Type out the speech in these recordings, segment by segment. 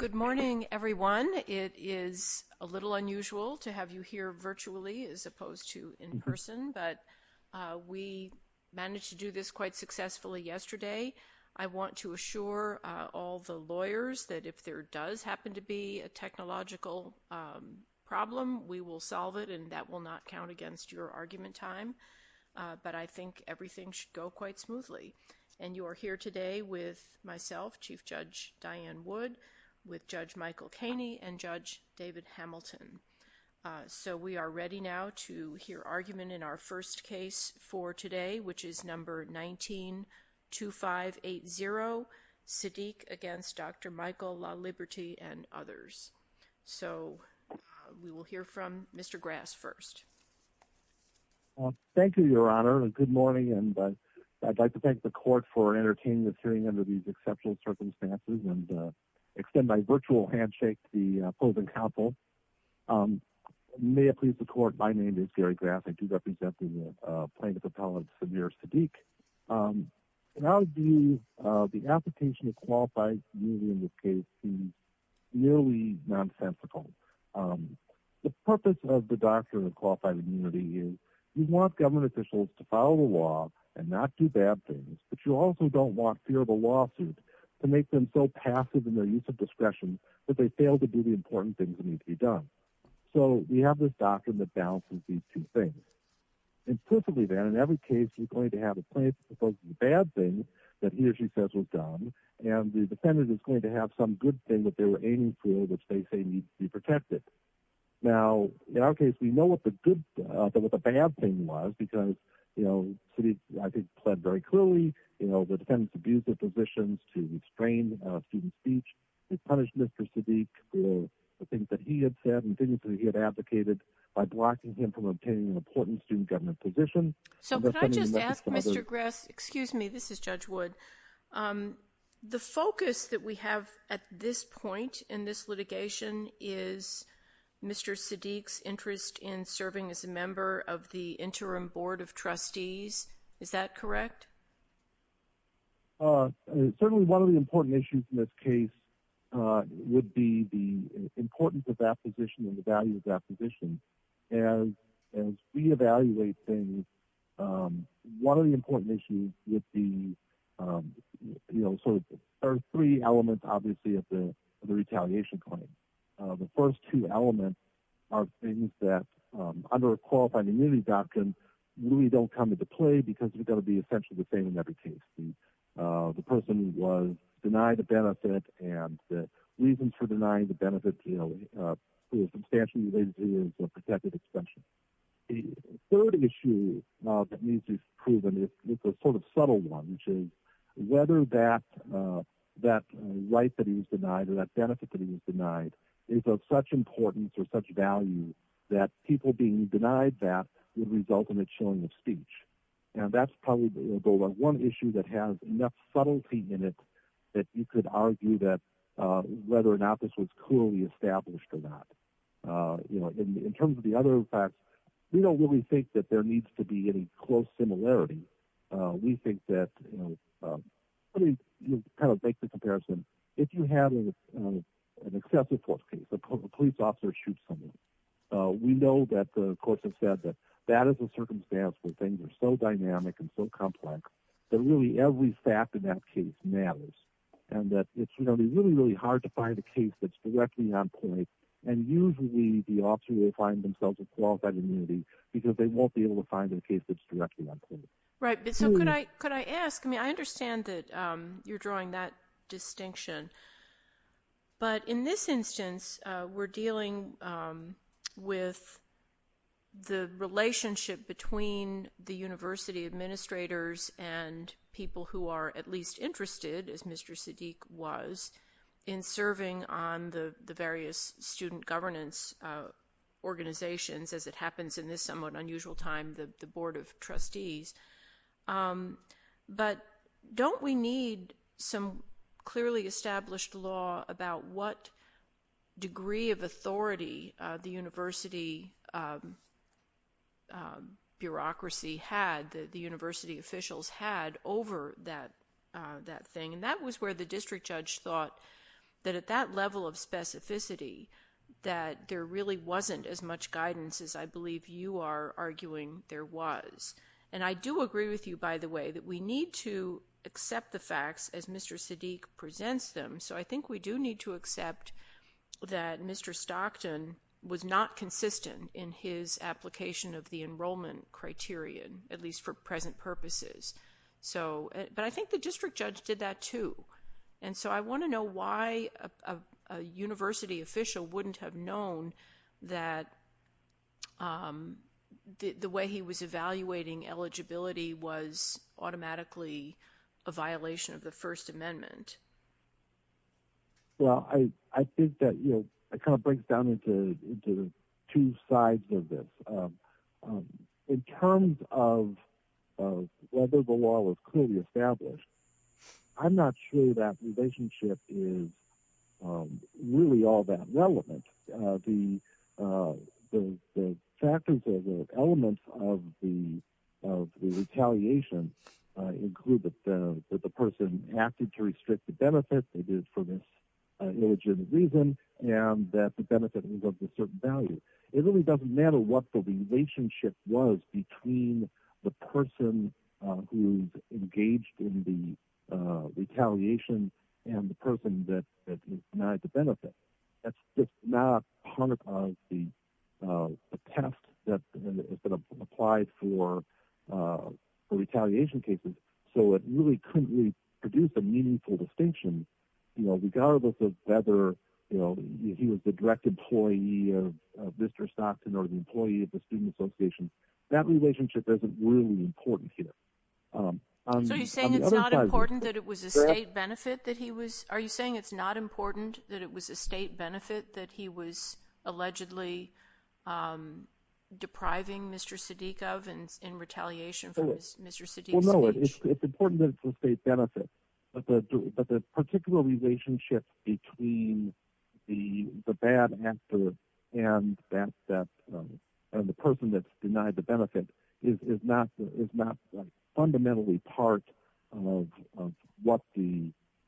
Good morning, everyone. It is a little unusual to have you here virtually as opposed to in person, but we managed to do this quite successfully yesterday. I want to assure all the lawyers that if there does happen to be a technological problem, we will solve it and that will not count against your argument time. But I think everything should go quite smoothly. And you and Judge David Hamilton. So we are ready now to hear argument in our first case for today, which is number 192580 Siddique against Dr. Michael Laliberte and others. So we will hear from Mr. Grass first. Thank you, Your Honor. Good morning. And I'd like to thank the court for entertaining the hearing under these exceptional circumstances and extend my virtual handshake to the opposing counsel. May it please the court, my name is Gary Grass. I do represent the plaintiff appellate, Samir Siddique. How do you the application of qualified immunity in this case seems nearly nonsensical. The purpose of the doctrine of qualified immunity is you want government officials to follow the law and not do bad things, but you also don't want fear of a lawsuit to make them so passive in their use of discretion that they fail to do the important things that need to be done. So we have this doctrine that balances these two things implicitly that in every case, we're going to have a plaintiff opposing the bad things that he or she says was done. And the defendant is going to have some good thing that they were aiming for, which they say needs to be protected. Now, in our case, we know what the good, what the bad thing was, because, you know, Siddique, I think, pled very clearly, you know, the defendant's abuse of positions to restrain student speech and punish Mr. Siddique for the things that he had said and things that he had advocated by blocking him from obtaining an important student government position. So can I just ask Mr. Grass, excuse me, this is Judge Wood. The focus that we have at this point in this litigation is Mr. Siddique's interest in serving as a member of the Interim Board of Trustees. Is that correct? Certainly one of the important issues in this case would be the importance of that position and the value of that position. As we evaluate things, one of the important issues would be, you know, there are three elements, obviously, of the retaliation claim. The first two elements are things that, under a qualified immunity doctrine, really don't come into play because they're going to be essentially the same in every case. The person was denied a benefit and the reason for denying the benefit, you know, is substantially related to the protected extension. The third issue that needs to be proven is a sort of subtle one, which is whether that right that he was denied or that benefit that he was denied is of such importance or such value that people being denied that would result in a chilling of speech. And that's probably going to go on one issue that has enough subtlety in it that you could argue that whether or not this was clearly established or not. You know, in terms of the other facts, we don't really think that there needs to be any close similarity. We think that, you know, let me kind of make the comparison. If you have an excessive force case, a police officer shoots someone, we know that the courts have said that that is a circumstance where things are so dynamic and so complex that really every fact in that case matters. And that it's really, really hard to find a case that's directly on point. And usually the officer will find themselves with qualified immunity because they won't be able to find a case that's directly on point. Right. So could I could I ask, I mean, I understand that you're drawing that distinction. But in this instance, we're dealing with the relationship between the university administrators and people who are at least interested, as Mr. Siddiq was, in serving on the various student governance organizations, as it happens in this somewhat unusual time, the Board of Trustees. But don't we need some clearly established law about what degree of authority the university bureaucracy had, the that thing? And that was where the district judge thought that at that level of specificity, that there really wasn't as much guidance as I believe you are arguing there was. And I do agree with you, by the way, that we need to accept the facts as Mr. Siddiq presents them. So I think we do need to accept that Mr. Stockton was not consistent in his application of the enrollment criterion, at least for present purposes. So but I think the district judge did that, too. And so I want to know why a university official wouldn't have known that the way he was evaluating eligibility was automatically a violation of the First Amendment. Well, I think that, you know, it kind of breaks down into two sides of this. In terms of whether the law was clearly established, I'm not sure that relationship is really all that relevant. The factors or the retaliation include that the person acted to restrict the benefit that is for this illogical reason, and that the benefit was of a certain value. It really doesn't matter what the relationship was between the person who's engaged in the retaliation and the person that denied the benefit. That's not part of the test that applied for retaliation cases. So it really couldn't really produce a meaningful distinction, you know, regardless of whether, you know, he was the direct employee of Mr. Stockton or the employee of the Student Association. That relationship isn't really important here. So you're saying it's not important that it was a state benefit that he was, are you saying it's not important that it was a state benefit that he was allegedly depriving Mr. Siddiq of and in retaliation for Mr. Siddiq's speech? Well, no, it's important that it's a state benefit. But the particular relationship between the bad actor and that, and the person that's denied the benefit is not fundamentally part of what the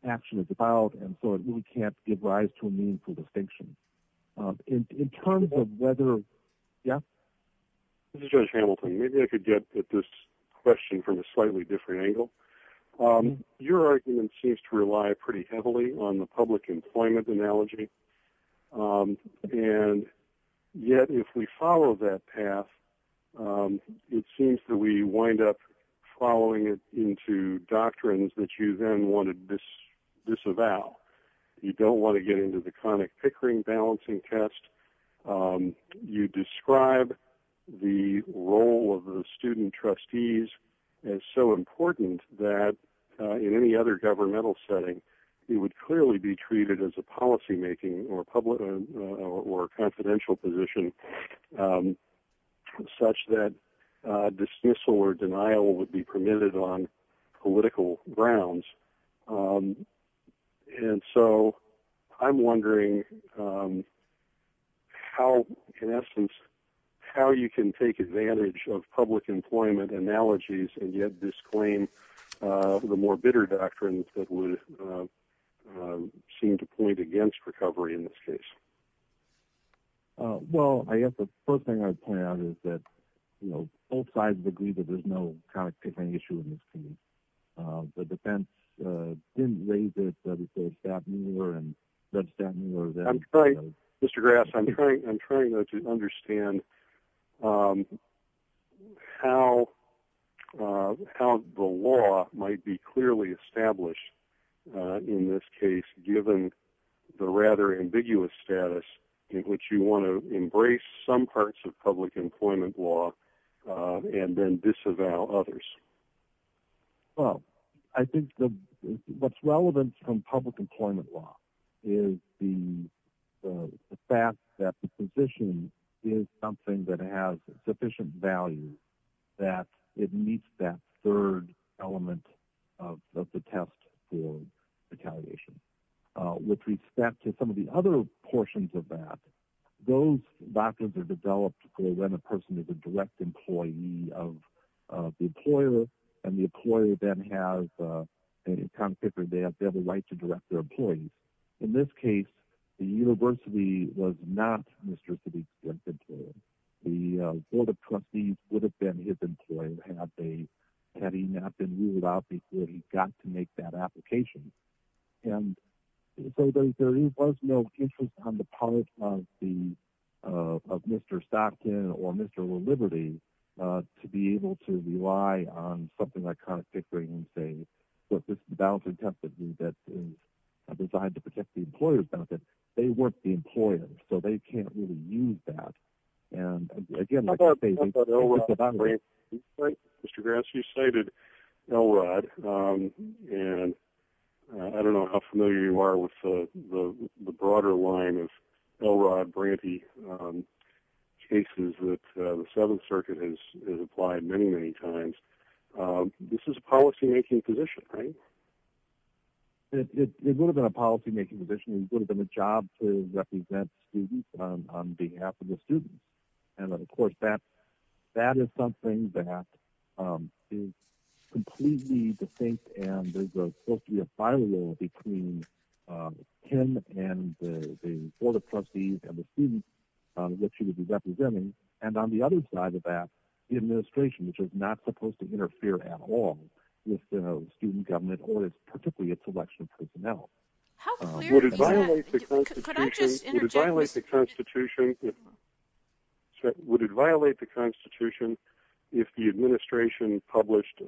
action is about. And so it really can't give rise to a meaningful distinction. In terms of whether, yeah. Judge Hamilton, maybe I could get at this question from a slightly different angle. Your argument seems to rely pretty heavily on the public employment analogy. And yet, if we follow that path, it seems that we wind up following into doctrines that you then want to disavow. You don't want to get into the conic pickering balancing test. You describe the role of the student trustees as so important that in any other governmental setting, you would clearly be treated as a policymaking or public or confidential position such that dismissal or denial would be permitted on political grounds. And so I'm wondering how, in essence, how you can take advantage of public employment analogies, and yet disclaim the more bitter doctrines that would seem to point against recovery in this case? Well, I guess the first thing I'd point out is that, you know, both sides agree that there's no conic pickering issue in this case. The defense didn't raise it, but it's got more and that's got more than... Mr. Grass, I'm trying to understand how the law might be clearly established in this case, given the rather ambiguous status in which you want to embrace some parts of public employment law, and then disavow others. Well, I think what's relevant from public employment law is the fact that the position is something that has sufficient value that it meets that third element of the test for retaliation. With respect to some of the other and the employer then has a conic pickering, they have a right to direct their employees. In this case, the university was not Mr. Siddiq Brinkman's employer. The board of trustees would have been his employer had he not been ruled out before he got to make that application. And so there was no interest on the part of Mr. Stockton or something like conic pickering in saying, look, this is a balancing test that is designed to protect the employer's benefit. They weren't the employer, so they can't really use that. And again, Mr. Grass, you cited Elrod. And I don't know how familiar you are with the broader line of Elrod Branty cases that the Seventh Circuit has applied many, many times. This is a policymaking position, right? It would have been a policymaking position. It would have been a job to represent students on behalf of the students. And of course, that is something that is completely distinct. And there's supposed to be a board of trustees and the students that you would be representing. And on the other side of that, the administration, which is not supposed to interfere at all with the student government or particularly its election personnel. Would it violate the Constitution if the administration published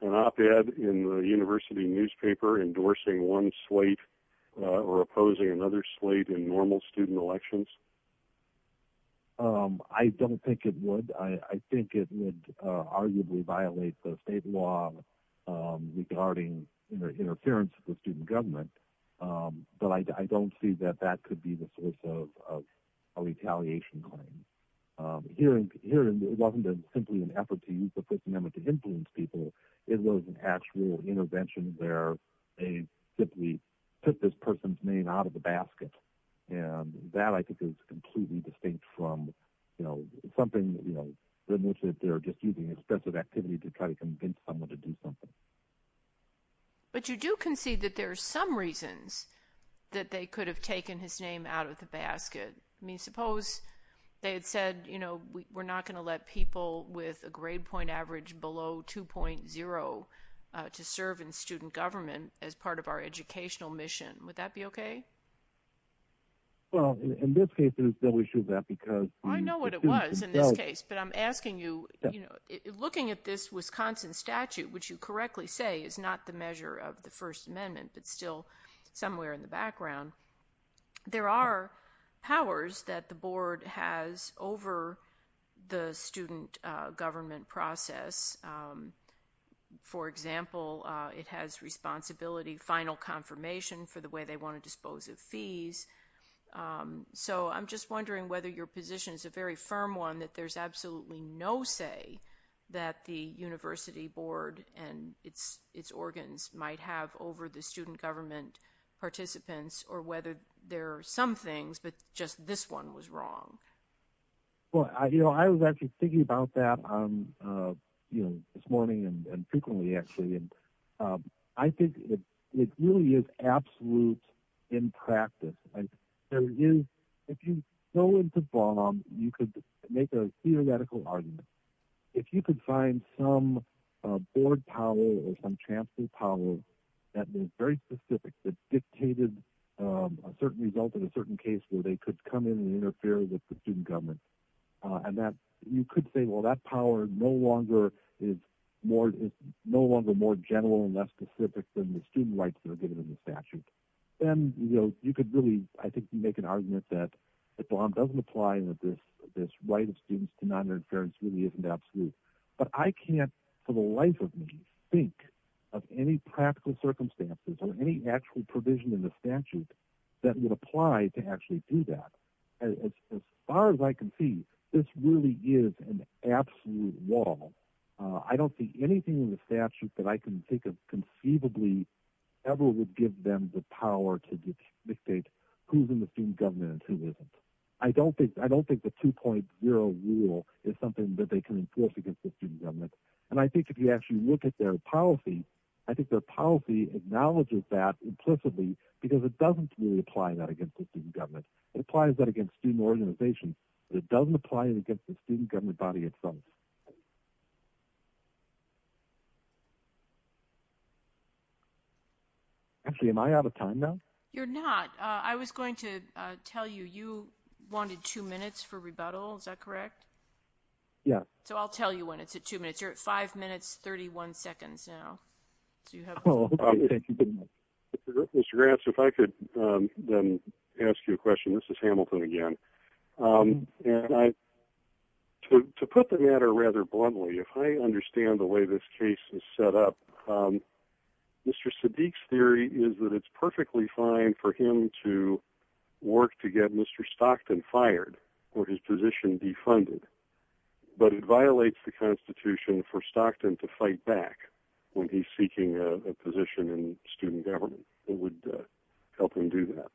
an op-ed in the university newspaper endorsing one slate or opposing another slate in normal student elections? I don't think it would. I think it would arguably violate the state law regarding interference with student government. But I don't see that that could be the source of a retaliation claim. Here, it wasn't simply an attempt to simply put this person's name out of the basket. And that, I think, is completely distinct from, you know, something, you know, in which they're just using expensive activity to try to convince someone to do something. But you do concede that there are some reasons that they could have taken his name out of the basket. I mean, suppose they had said, you know, we're not going to let people with a grade point average below 2.0 to serve in our educational mission. Would that be okay? Well, in this case, it is still issued that because... I know what it was in this case. But I'm asking you, you know, looking at this Wisconsin statute, which you correctly say is not the measure of the First Amendment, but still somewhere in the background, there are powers that the board has over the student government process. For example, it has responsibility, final confirmation for the way they want to dispose of fees. So I'm just wondering whether your position is a very firm one that there's absolutely no say that the university board and its organs might have over the student government participants, or whether there are some things, but just this one was wrong. Well, you know, I was actually thinking about that, you know, this morning and frequently, actually. And I think it really is absolute in practice. If you go into bomb, you could make a theoretical argument. If you could find some board power or some chancellor power, that was very specific, that dictated a certain result in a certain case where they could come in and interfere with the student government. And that you could say, well, that power no longer is more, no longer more general and less specific than the student rights that are given in the statute. And, you know, you could really, I think you make an argument that it doesn't apply that this, this right of students to non-interference really isn't absolute, but I can't for the life of me, think of any practical circumstances or any actual provision in the statute that would apply to actually do that. As far as I can see, this really is an absolute wall. I don't see anything in the statute that I can think of conceivably ever would give them the power to dictate who's in the student government and who isn't. I don't think the 2.0 rule is something that they can enforce against the student government. And I think if you actually look at their policy, I think their policy acknowledges that implicitly because it doesn't really apply that against the student government. It applies that against student organizations, but it doesn't apply it against the student government body itself. Actually, am I out of time now? You're not. I was going to tell you, you wanted two minutes for rebuttal. Is that correct? Yeah. So I'll tell you when it's at two minutes. You're at five minutes, 31 seconds now. Mr. Gratz, if I could then ask you a question. This is Hamilton again. And I, to put the matter rather bluntly, if I could. Sadiq's theory is that it's perfectly fine for him to work to get Mr. Stockton fired or his position defunded, but it violates the constitution for Stockton to fight back when he's seeking a position in student government. It would help him do that.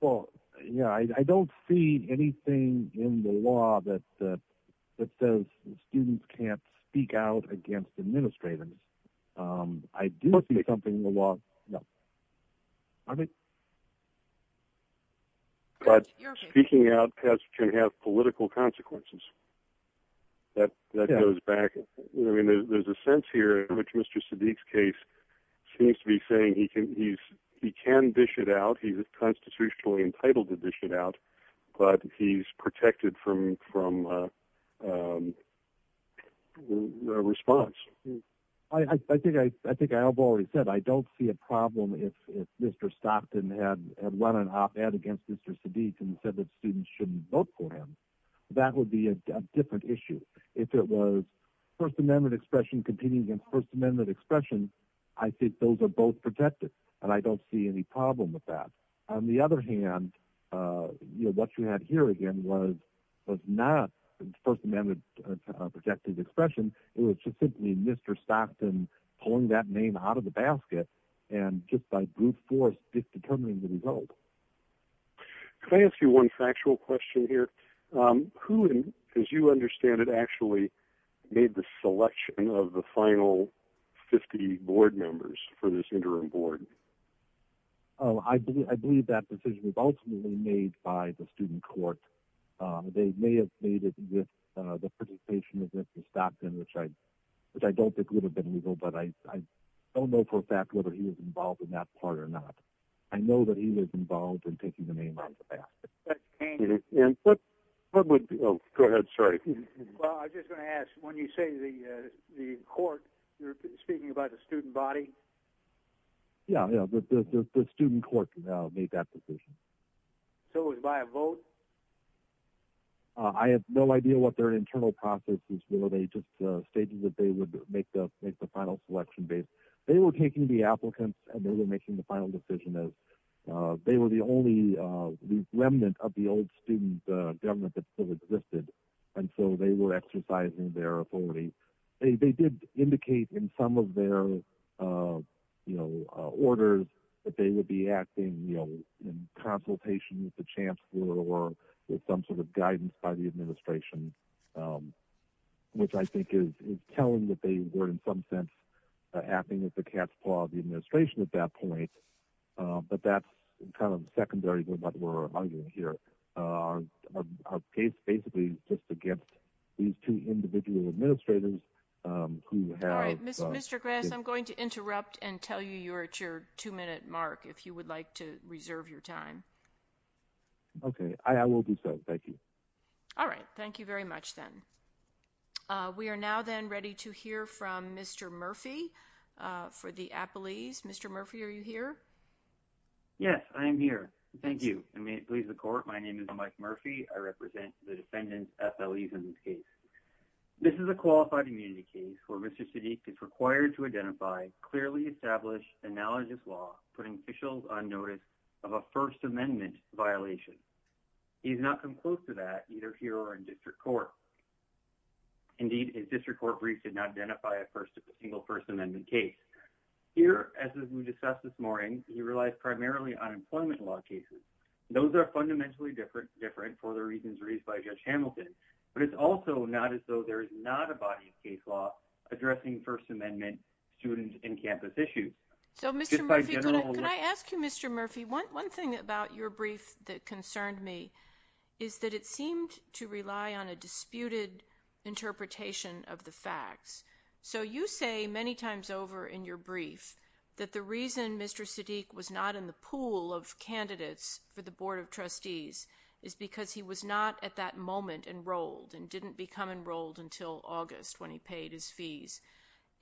Well, yeah, I don't see anything in the law that says students can't speak out against administrators. I do see something in the law. But speaking out can have political consequences. That goes back. I mean, there's a sense here in which Mr. Sadiq's case seems to be saying he can dish it out. He's constitutionally entitled to dish it out, but he's protected from response. I think I've already said, I don't see a problem if Mr. Stockton had run an op-ed against Mr. Sadiq and said that students shouldn't vote for him. That would be a different issue. If it was first amendment expression competing against first amendment, I think those are both protected and I don't see any problem with that. On the other hand, what you had here again was not first amendment protected expression. It was just simply Mr. Stockton pulling that name out of the basket and just by brute force, just determining the result. Can I ask you one factual question here? Who, as you understand it, actually made the selection of the final 50 board members for this interim board? Oh, I believe that decision was ultimately made by the student court. They may have made it with the participation of Mr. Stockton, which I don't think would have been legal, but I don't know for a fact whether he was involved in that part or not. I know that he was involved in taking the name out of the basket. And what would be... Oh, go ahead. Sorry. Well, I was just going to ask, when you say the court, you're speaking about the student body? Yeah, the student court made that decision. So it was by a vote? I have no idea what their internal processes were. They just stated that they would make the final selection based. They were taking the applicants and they were making the final decision as they were the only remnant of the old student government that still existed. And so they were exercising their authority. They did indicate in some of their orders that they would be acting in consultation with the chancellor or with some sort of guidance by the administration, which I think is telling that they were, in some sense, acting as the cat's paw of the administration at that point. But that's kind of secondary to what we're arguing here. Basically, just against these two individual administrators who have... All right, Mr. Grass, I'm going to interrupt and tell you you're at your two-minute mark, if you would like to reserve your time. Okay, I will do so. Thank you. All right. Thank you very much, then. We are now then ready to hear from Mr. Murphy for the appellees. Mr. Murphy, are you here? Yes, I am here. Thank you. And may it please the court, my name is Mike Murphy. I represent the defendants' FLEs in this case. This is a qualified immunity case where Mr. Sadiq is required to identify clearly established analogous law putting officials on first amendment violation. He has not come close to that, either here or in district court. Indeed, his district court brief did not identify a single first amendment case. Here, as we discussed this morning, he relies primarily on employment law cases. Those are fundamentally different for the reasons raised by Judge Hamilton, but it's also not as though there is not a body of case law addressing first amendment student and campus issues. So, Mr. Murphy, could I ask you, Mr. Murphy, one thing about your brief that concerned me is that it seemed to rely on a disputed interpretation of the facts. So, you say many times over in your brief that the reason Mr. Sadiq was not in the pool of candidates for the Board of Trustees is because he was not at that moment enrolled and didn't become enrolled until August when he paid his fees.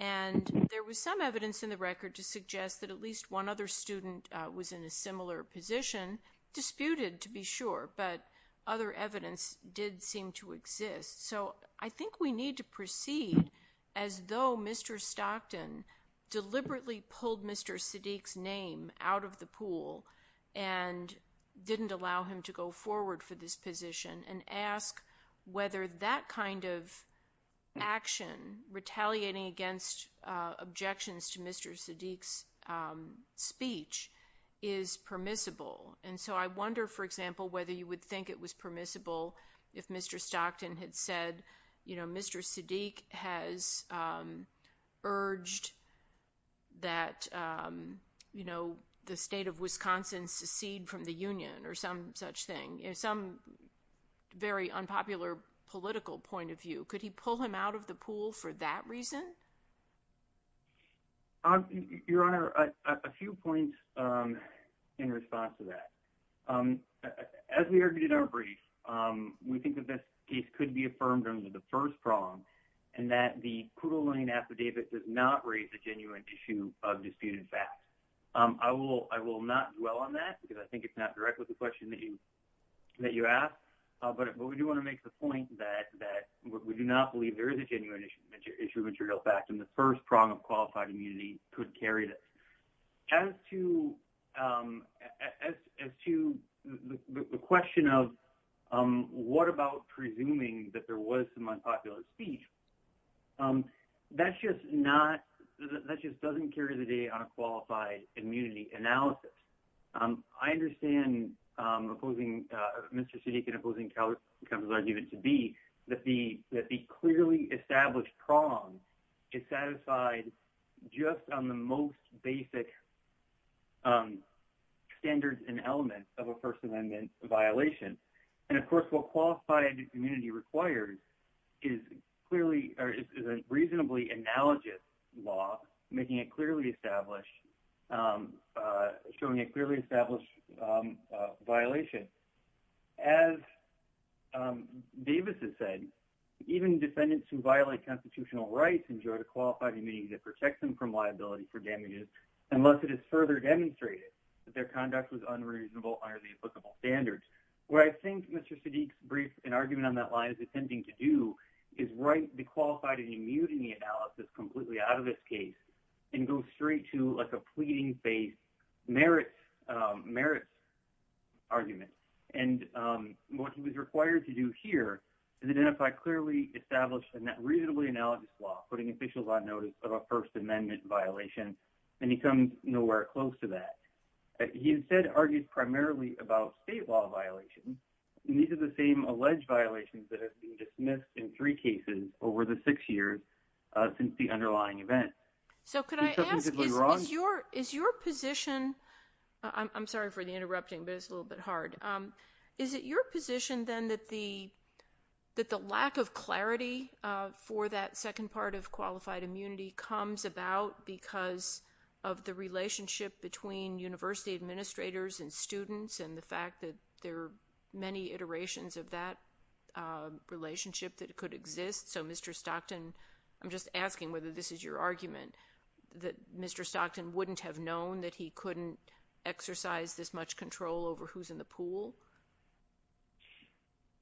And there was some evidence in the record to suggest that at least one other student was in a similar position, disputed to be sure, but other evidence did seem to exist. So, I think we need to proceed as though Mr. Stockton deliberately pulled Mr. Sadiq's name out of the pool and didn't allow him to go forward for this position and ask whether that kind of action, retaliating against objections to Mr. Sadiq's speech, is permissible. And so I wonder, for example, whether you would think it was permissible if Mr. Stockton had said, you know, Mr. Sadiq has urged that, you know, the state of Wisconsin secede from the union or some such thing, some very unpopular political point of view. Could he pull him out of the pool for that reason? Your Honor, a few points in response to that. As we argued in our brief, we think that this case could be affirmed under the first prong and that the crudely named affidavit does not raise a genuine issue of disputed facts. I will not dwell on that because I think it's not the question that you asked, but we do want to make the point that we do not believe there is a genuine issue of material fact and the first prong of qualified immunity could carry this. As to the question of what about presuming that there was some unpopular speech, um, that's just not, that just doesn't carry the day on a qualified immunity analysis. I understand Mr. Sadiq and opposing counsel's argument to be that the clearly established prong is satisfied just on the most basic standards and elements of a First Amendment violation. And of course, what qualified immunity requires is a reasonably analogous law showing a clearly established violation. As Davis has said, even defendants who violate constitutional rights enjoy the qualified immunity that protects them from liability for damages unless it is further demonstrated that their conduct was unreasonable under the applicable standards. What I think Mr. Sadiq's brief and argument on that line is attempting to do is write the qualified immunity analysis completely out of this case and go straight to like a pleading face merits argument. And what he was required to do here is identify clearly established and reasonably analogous law, putting officials on notice of a First Amendment violation and he comes nowhere close to that. He instead argued primarily about state law violations. These are the same alleged violations that have been dismissed in three cases over the six years since the underlying event. So could I ask, is your position, I'm sorry for the interrupting, but it's a little bit hard. Is it your position then that the lack of clarity for that second part of qualified immunity comes about because of the relationship between university administrators and students and the fact that there are many iterations of that relationship that could exist? So Mr. Stockton, I'm just asking whether this is your argument, that Mr. Stockton wouldn't have known that he couldn't exercise this much control over who's in the pool?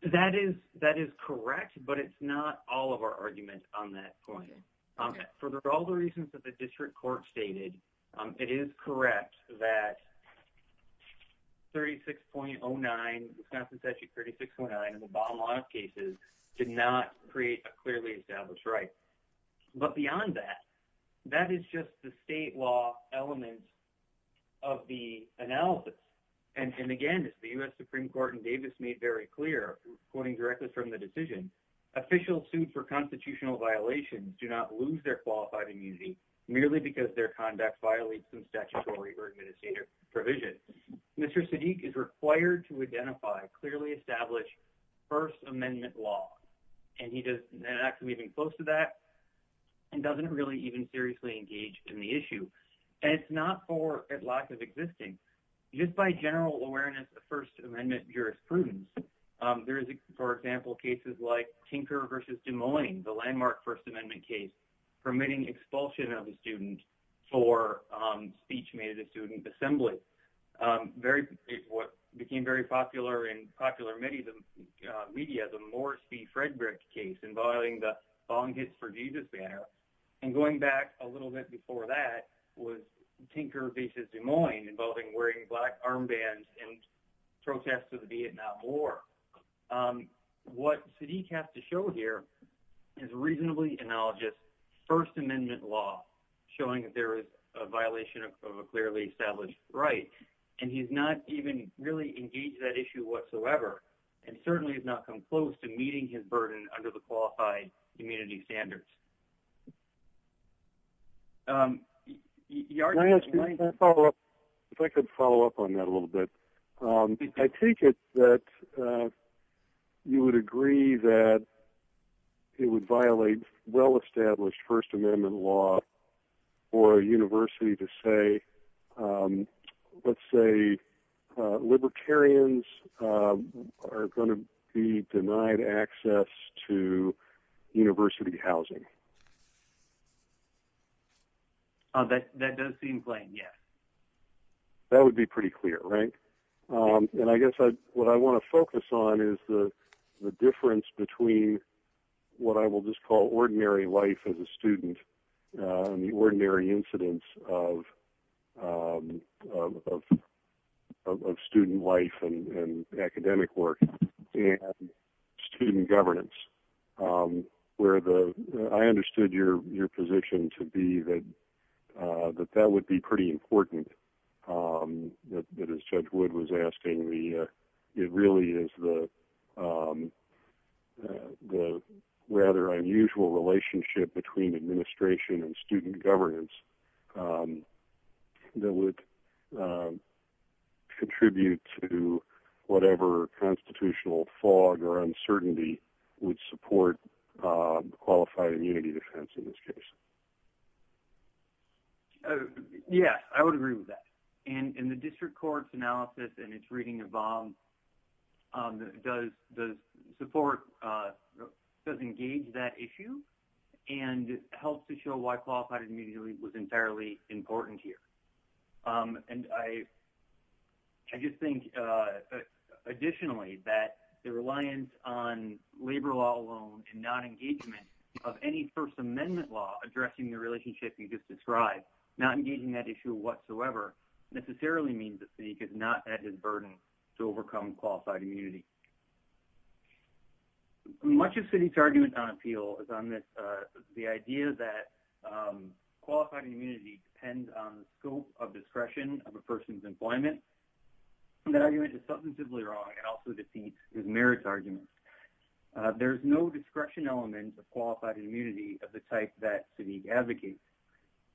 That is correct, but it's not all of our argument on that point. For all the reasons that the district court stated, it is correct that 36.09, Wisconsin Statute 36.09 in the bottom line of cases did not create a clearly established right. But beyond that, that is just the state law element of the analysis. And again, as the U.S. Supreme Court in Davis made very clear, quoting directly from the decision, officials sued for constitutional violations do not lose their qualified immunity merely because their conduct violates some statutory or administrative provisions. Mr. Sadiq is required to identify clearly established first amendment law. And he does not come even close to that and doesn't really even seriously engage in the issue. And it's not for lack of existing. Just by general awareness of first amendment jurisprudence, there is, for example, cases like Tinker v. Des Moines, the landmark first amendment case permitting expulsion of a student for speech made at a student assembly. What became very popular in popular media, the Morris v. Frederick case involving the Jesus banner, and going back a little bit before that was Tinker v. Des Moines, involving wearing black armbands and protests of the Vietnam War. What Sadiq has to show here is reasonably analogous first amendment law showing that there is a violation of a clearly established right. And he's not even really engaged that issue whatsoever. And certainly has not come close to meeting his burden under the qualified immunity standards. If I could follow up on that a little bit. I think that you would agree that it would violate well established first amendment law for a university to say, let's say libertarians are going to be denied access to university housing. That does seem plain, yes. That would be pretty clear, right? And I guess what I want to focus on is the difference between what I will just call ordinary life as a student, and the ordinary incidents of of student life and academic work, and student governance. I understood your position to be that that would be pretty important, that as Judge Wood was asking, it really is the rather unusual relationship between administration and student governance that would contribute to whatever constitutional fog or uncertainty would support qualified immunity defense in this case. Yes, I would agree with that. And the district court's analysis and its reading of VOM does support, does engage that issue, and helps to show why qualified immunity was entirely important here. And I just think additionally that the reliance on labor law alone and not engagement of any first amendment law addressing the relationship you just described, not engaging that issue whatsoever, necessarily means the state is not at his burden to overcome qualified immunity. Much of City's argument on appeal is on this, the idea that qualified immunity depends on the scope of discretion of a person's employment. That argument is substantively wrong and also defeats his merits argument. There's no discretion element of qualified immunity of the type that City advocates.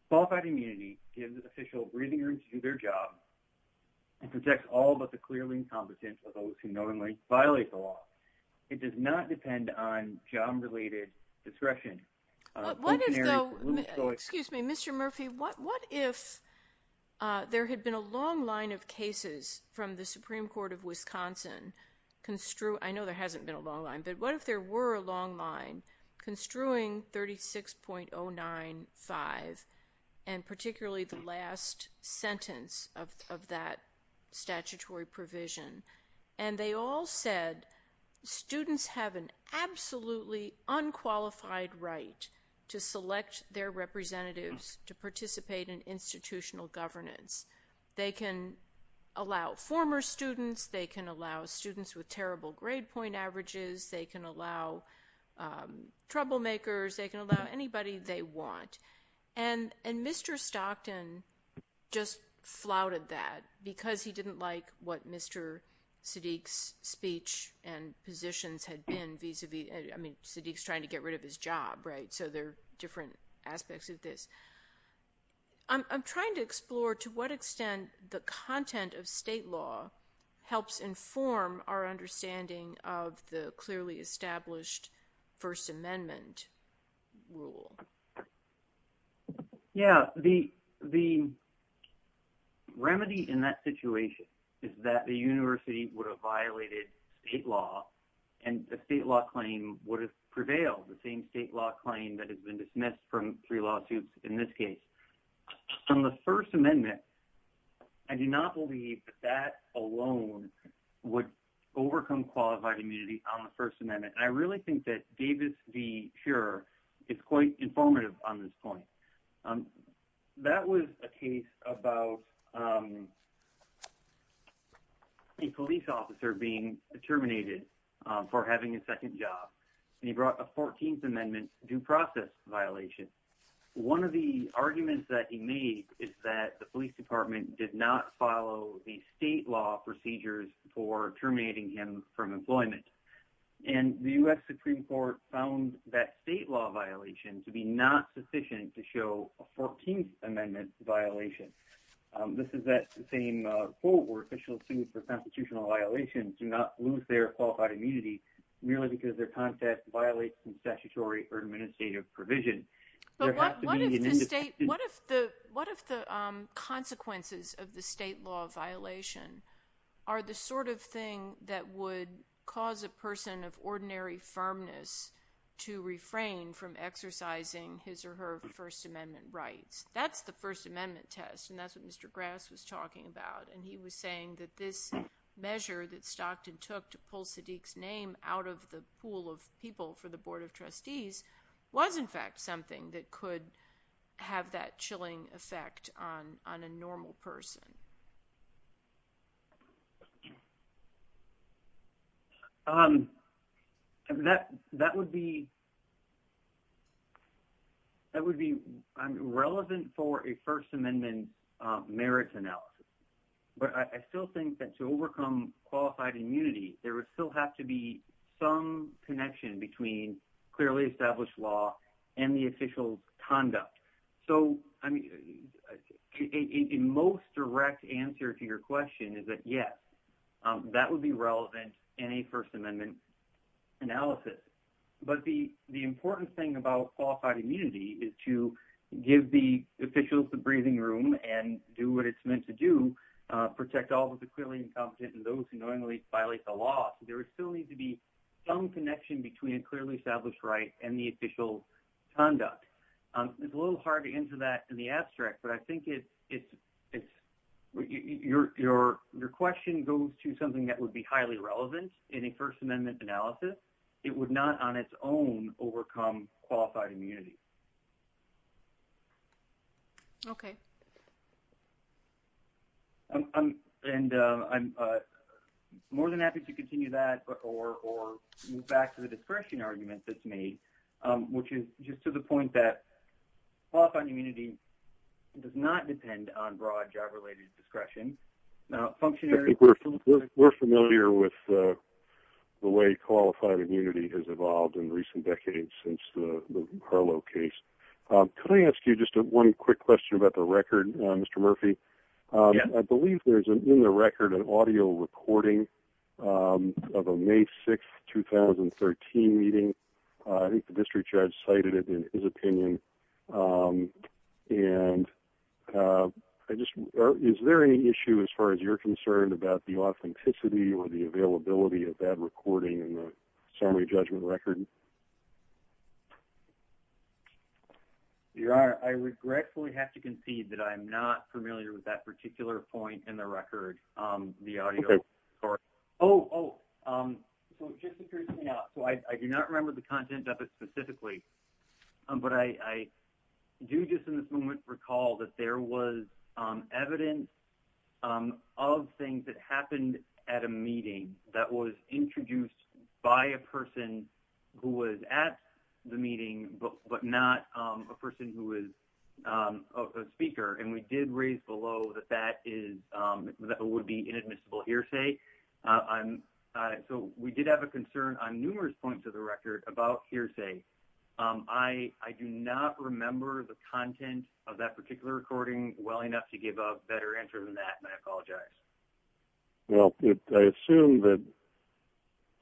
Qualified immunity gives official breathing to their job and protects all but the clearly incompetent of those who not only violate the law. It does not depend on job-related discretion. Excuse me, Mr. Murphy, what if there had been a long line of cases from the Supreme Court of Wisconsin construed, I know there hasn't been a long line, but what if there were a long line construing 36.095 and particularly the last sentence of that statutory provision, and they all said students have an absolutely unqualified right to select their representatives to participate in institutional governance. They can allow former students, they can allow students with terrible grade point averages, they can allow troublemakers, they can allow anybody they want. And Mr. Stockton just flouted that because he didn't like what Mr. Sadiq's speech and positions had been vis-a-vis, I mean, Sadiq's trying to get rid of his job, right? So there are different aspects of this. I'm trying to explore to what extent the content of state law helps inform our understanding of the clearly established First Amendment rule. Yeah, the remedy in that situation is that the university would have violated state law and the state law claim would have prevailed, the same state law claim that has been dismissed from three lawsuits in this case. From the First Amendment, I do not believe that alone would overcome qualified immunity on the First Amendment. I really think that Davis v. Shurer is quite informative on this point. That was a case about a police officer being terminated for having a second job, and he brought a 14th Amendment due process violation. One of the arguments that he made is that the police department did not follow the state law procedures for terminating him from employment. And the U.S. Supreme Court found that state law violation to be not sufficient to show a 14th Amendment violation. This is that same quote where officials sued for constitutional violations do not lose their statutory or administrative provision. What if the consequences of the state law violation are the sort of thing that would cause a person of ordinary firmness to refrain from exercising his or her First Amendment rights? That's the First Amendment test, and that's what Mr. Grass was talking about. And he was saying that this measure that Stockton took to pull Sadiq's name out of the pool of people for the Board of Trustees was in fact something that could have that chilling effect on a normal person. That would be relevant for a First Amendment merits analysis. But I still think that to overcome qualified immunity, there would still have to be some connection between clearly established law and the official conduct. So, I mean, a most direct answer to your question is that, yes, that would be relevant in a First Amendment analysis. But the important thing about qualified immunity is to give the officials the breathing room and do what it's meant to do, protect all those who are clearly incompetent and those who knowingly violate the law. There would still need to be some connection between a clearly established right and the official conduct. It's a little hard to answer that in the abstract, but I think your question goes to something that would be highly relevant in a First Amendment analysis. It would not on its own overcome qualified immunity. Okay. And I'm more than happy to continue that or move back to the discretion argument that's made, which is just to the point that qualified immunity does not depend on broad job-related discretion. We're familiar with the way qualified immunity has evolved in recent decades since the case. Can I ask you just one quick question about the record, Mr. Murphy? I believe there's in the record an audio recording of a May 6th, 2013 meeting. I think the district judge cited it in his opinion. And is there any issue as far as you're concerned about the authenticity or the availability of that recording in the summary judgment record? There are. I regretfully have to concede that I'm not familiar with that particular point in the record, the audio. Oh, just to clear something out. I do not remember the content of it specifically, but I do just in this moment recall that there was evidence of things that was introduced by a person who was at the meeting, but not a person who was a speaker. And we did raise below that that would be inadmissible hearsay. So, we did have a concern on numerous points of the record about hearsay. I do not remember the content of that particular recording well enough to give a better answer than that, and I apologize. Well, I assume that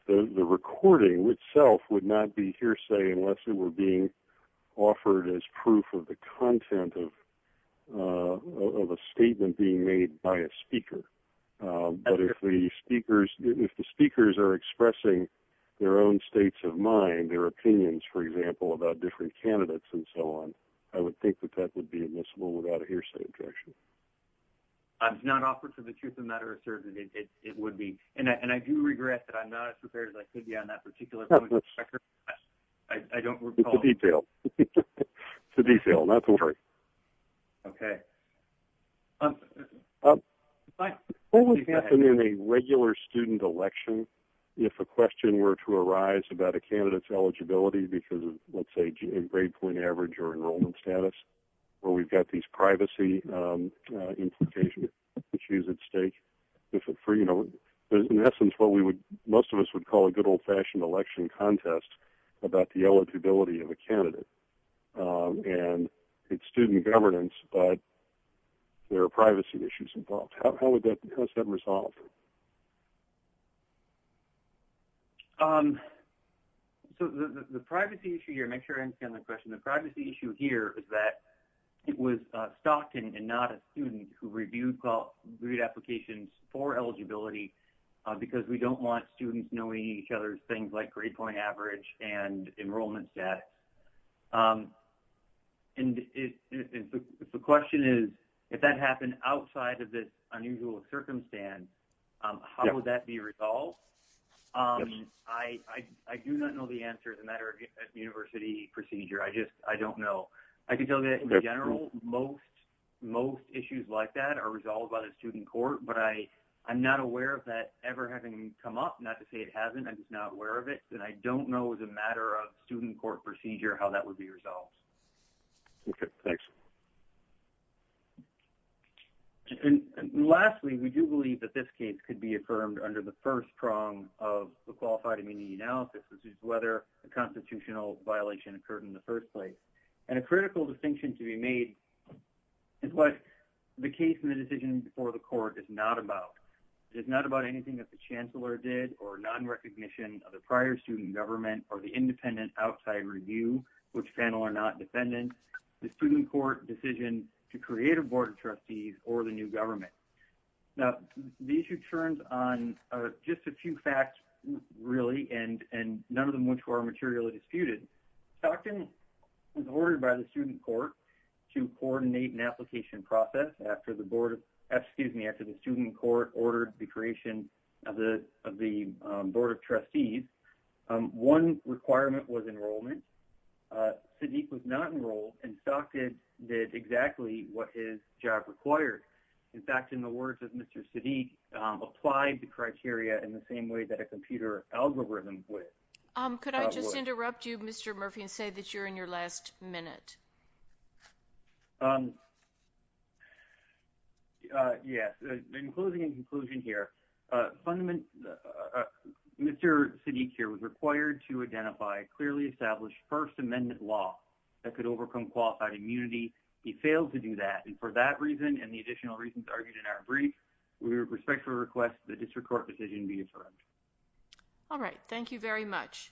the recording itself would not be hearsay unless it were being offered as proof of the content of a statement being made by a speaker. But if the speakers are expressing their own states of mind, their opinions, for example, about different candidates and so on, I would think that that would be admissible without a hearsay objection. It's not offered for the truth of the matter, sir. It would be. And I do regret that I'm not as prepared as I could be on that particular point in the record. I don't recall. It's a detail. It's a detail. Not to worry. Okay. What would happen in a regular student election if a question were to arise about a candidate's eligibility because of, let's say, grade point average or enrollment status, where we've got these privacy implications at stake? In essence, what most of us would call a good old-fashioned election contest about the eligibility of a candidate. And it's student governance, but there are privacy issues involved. How is that resolved? So the privacy issue here, make sure I understand the question. The privacy issue here is that it was Stockton and not a student who reviewed applications for eligibility because we don't want students knowing each other's things like grade point average and enrollment status. And if the question is, if that happened outside of this unusual circumstance, how would that be resolved? I do not know the answer as a matter of university procedure. I just don't know. I can tell you that in general, most issues like that are resolved by the student court, but I'm not aware of that ever having come up. Not to say it hasn't. I'm just not aware of it. And I don't know as a matter of student court procedure how that would be resolved. Okay. Thanks. Lastly, we do believe that this case could be affirmed under the first prong of the qualified analysis, which is whether a constitutional violation occurred in the first place. And a critical distinction to be made is what the case and the decision before the court is not about. It's not about anything that the chancellor did or non-recognition of the prior student government or the independent outside review, which panel are not defendants, the student court decision to create a board of trustees or the new government. Now, the issue turns on just a few really, and none of them which were materially disputed. Stockton was ordered by the student court to coordinate an application process after the student court ordered the creation of the board of trustees. One requirement was enrollment. Sadiq was not enrolled and Stockton did exactly what his job required. In fact, in the words of Mr. Sadiq, applied the criteria in the same way that a computer algorithm would. Could I just interrupt you, Mr. Murphy, and say that you're in your last minute? Yes. In closing and conclusion here, Mr. Sadiq here was required to identify clearly established first amendment law that could overcome qualified immunity. He failed to do that. And for that request, the district court decision be affirmed. All right. Thank you very much.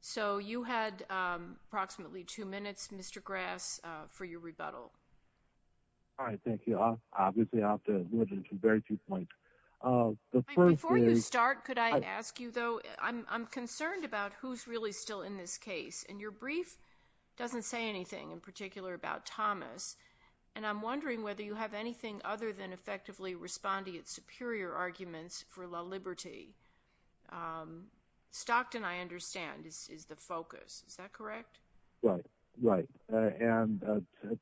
So you had approximately two minutes, Mr. Grass, for your rebuttal. All right. Thank you. Obviously, I'll have to move into very few points. Before you start, could I ask you though, I'm concerned about who's really still in this case. And your brief doesn't say anything in particular about Thomas. And I'm wondering whether you have anything other than effectively responding its superior arguments for LaLiberte. Stockton, I understand, is the focus. Is that correct? Right. Right. And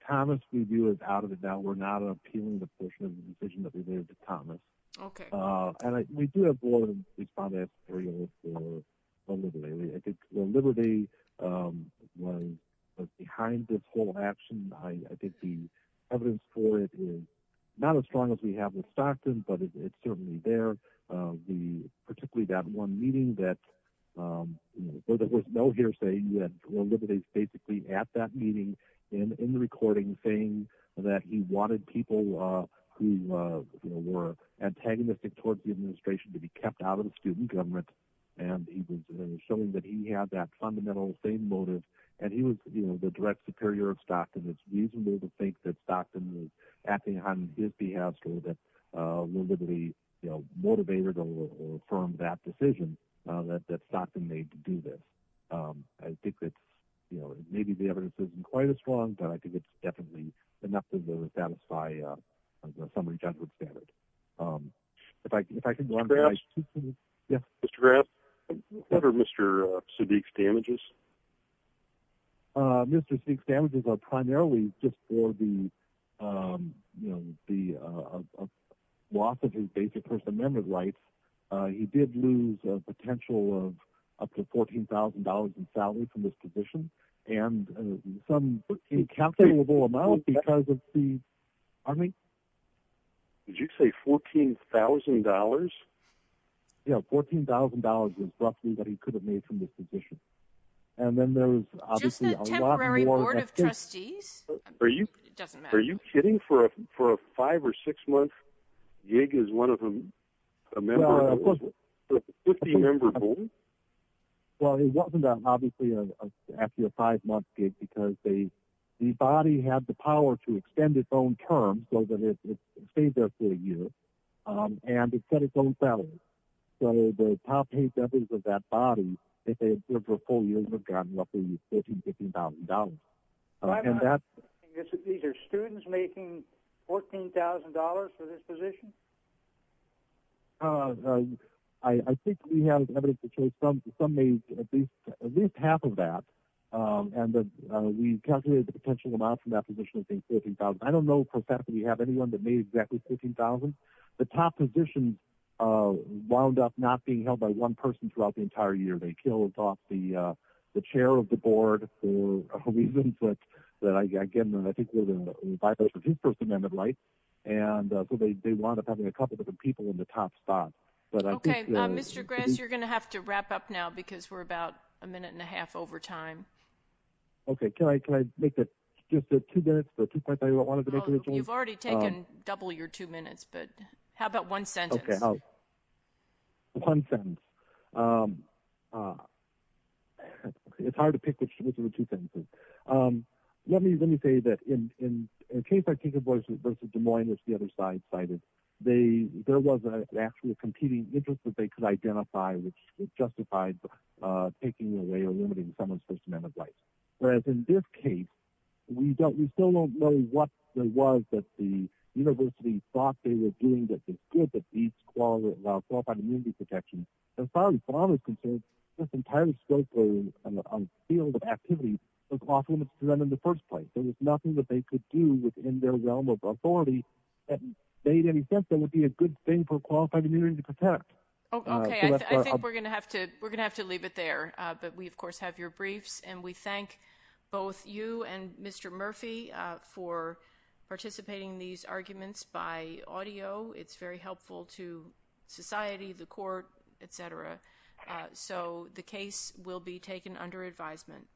Thomas, we do is out of it now. We're not appealing the portion of the decision that we made to Thomas. Okay. And we do have more than we found that material for LaLiberte. I think LaLiberte was behind this whole action. I think the evidence for it is not as strong as we have with Stockton, but it's certainly there. Particularly that one meeting that there was no hearsay. LaLiberte is basically at that meeting in the recording saying that he wanted people who were antagonistic towards the administration to be kept out of the student government. And he was showing that he had that fundamental same motive. And he was the direct superior of Stockton acting on his behalf. LaLiberte motivated or affirmed that decision that Stockton made to do this. I think that maybe the evidence isn't quite as strong, but I think it's definitely enough to satisfy somebody's judgment standard. Mr. Graf, what are Mr. Sadiq's damages? Mr. Sadiq's damages are primarily just for the loss of his basic first amendment rights. He did lose a potential of up to $14,000 in salary from this position and some incalculable amount because of the... Pardon me? Did you say $14,000? Yeah, $14,000 was roughly what he could have made from this position. And then there was obviously a lot more... Just a temporary board of trustees? It doesn't matter. Are you kidding? For a five or six month gig as one of them, a member of the 50 member board? Well, it wasn't obviously after a five month gig because the body had the power to extend its own term so that it stayed there for a year. And it set its own salary. So the top eight members of that body, if they had stood for four years, would have gotten roughly $14,000, $15,000. These are students making $14,000 for this position? I think we have evidence to show some made at least half of that. And we calculated the potential amount from that position to be $14,000. I don't know for a fact that we have anyone that the top position wound up not being held by one person throughout the entire year. They killed off the chair of the board for reasons that, again, I think were in violation of his First Amendment rights. And so they wound up having a couple of different people in the top spot. Okay. Mr. Grass, you're going to have to wrap up now because we're about a minute and a half over time. Okay. Can I make it just two minutes? Oh, you've already taken double your two minutes, but how about one sentence? One sentence. It's hard to pick which one of the two sentences. Let me say that in a case like Tinker Boys v. Des Moines, which the other side cited, there was actually a competing interest that they could identify which justified taking away or limiting someone's First Amendment rights. Whereas in this case, we don't, we still don't know what it was that the university thought they were doing that was good that these qualified immunity protections. As far as Bob is concerned, this entire scope and field of activity was off limits to them in the first place. There was nothing that they could do within their realm of authority that made any sense that would be a good thing for qualified immunity to protect. Okay. I think we're going to have to, we're going to have to leave it there, but we of course have your briefs and we thank both you and Mr. Murphy for participating in these arguments by audio. It's very helpful to society, the court, et cetera. So the case will be taken under advisement.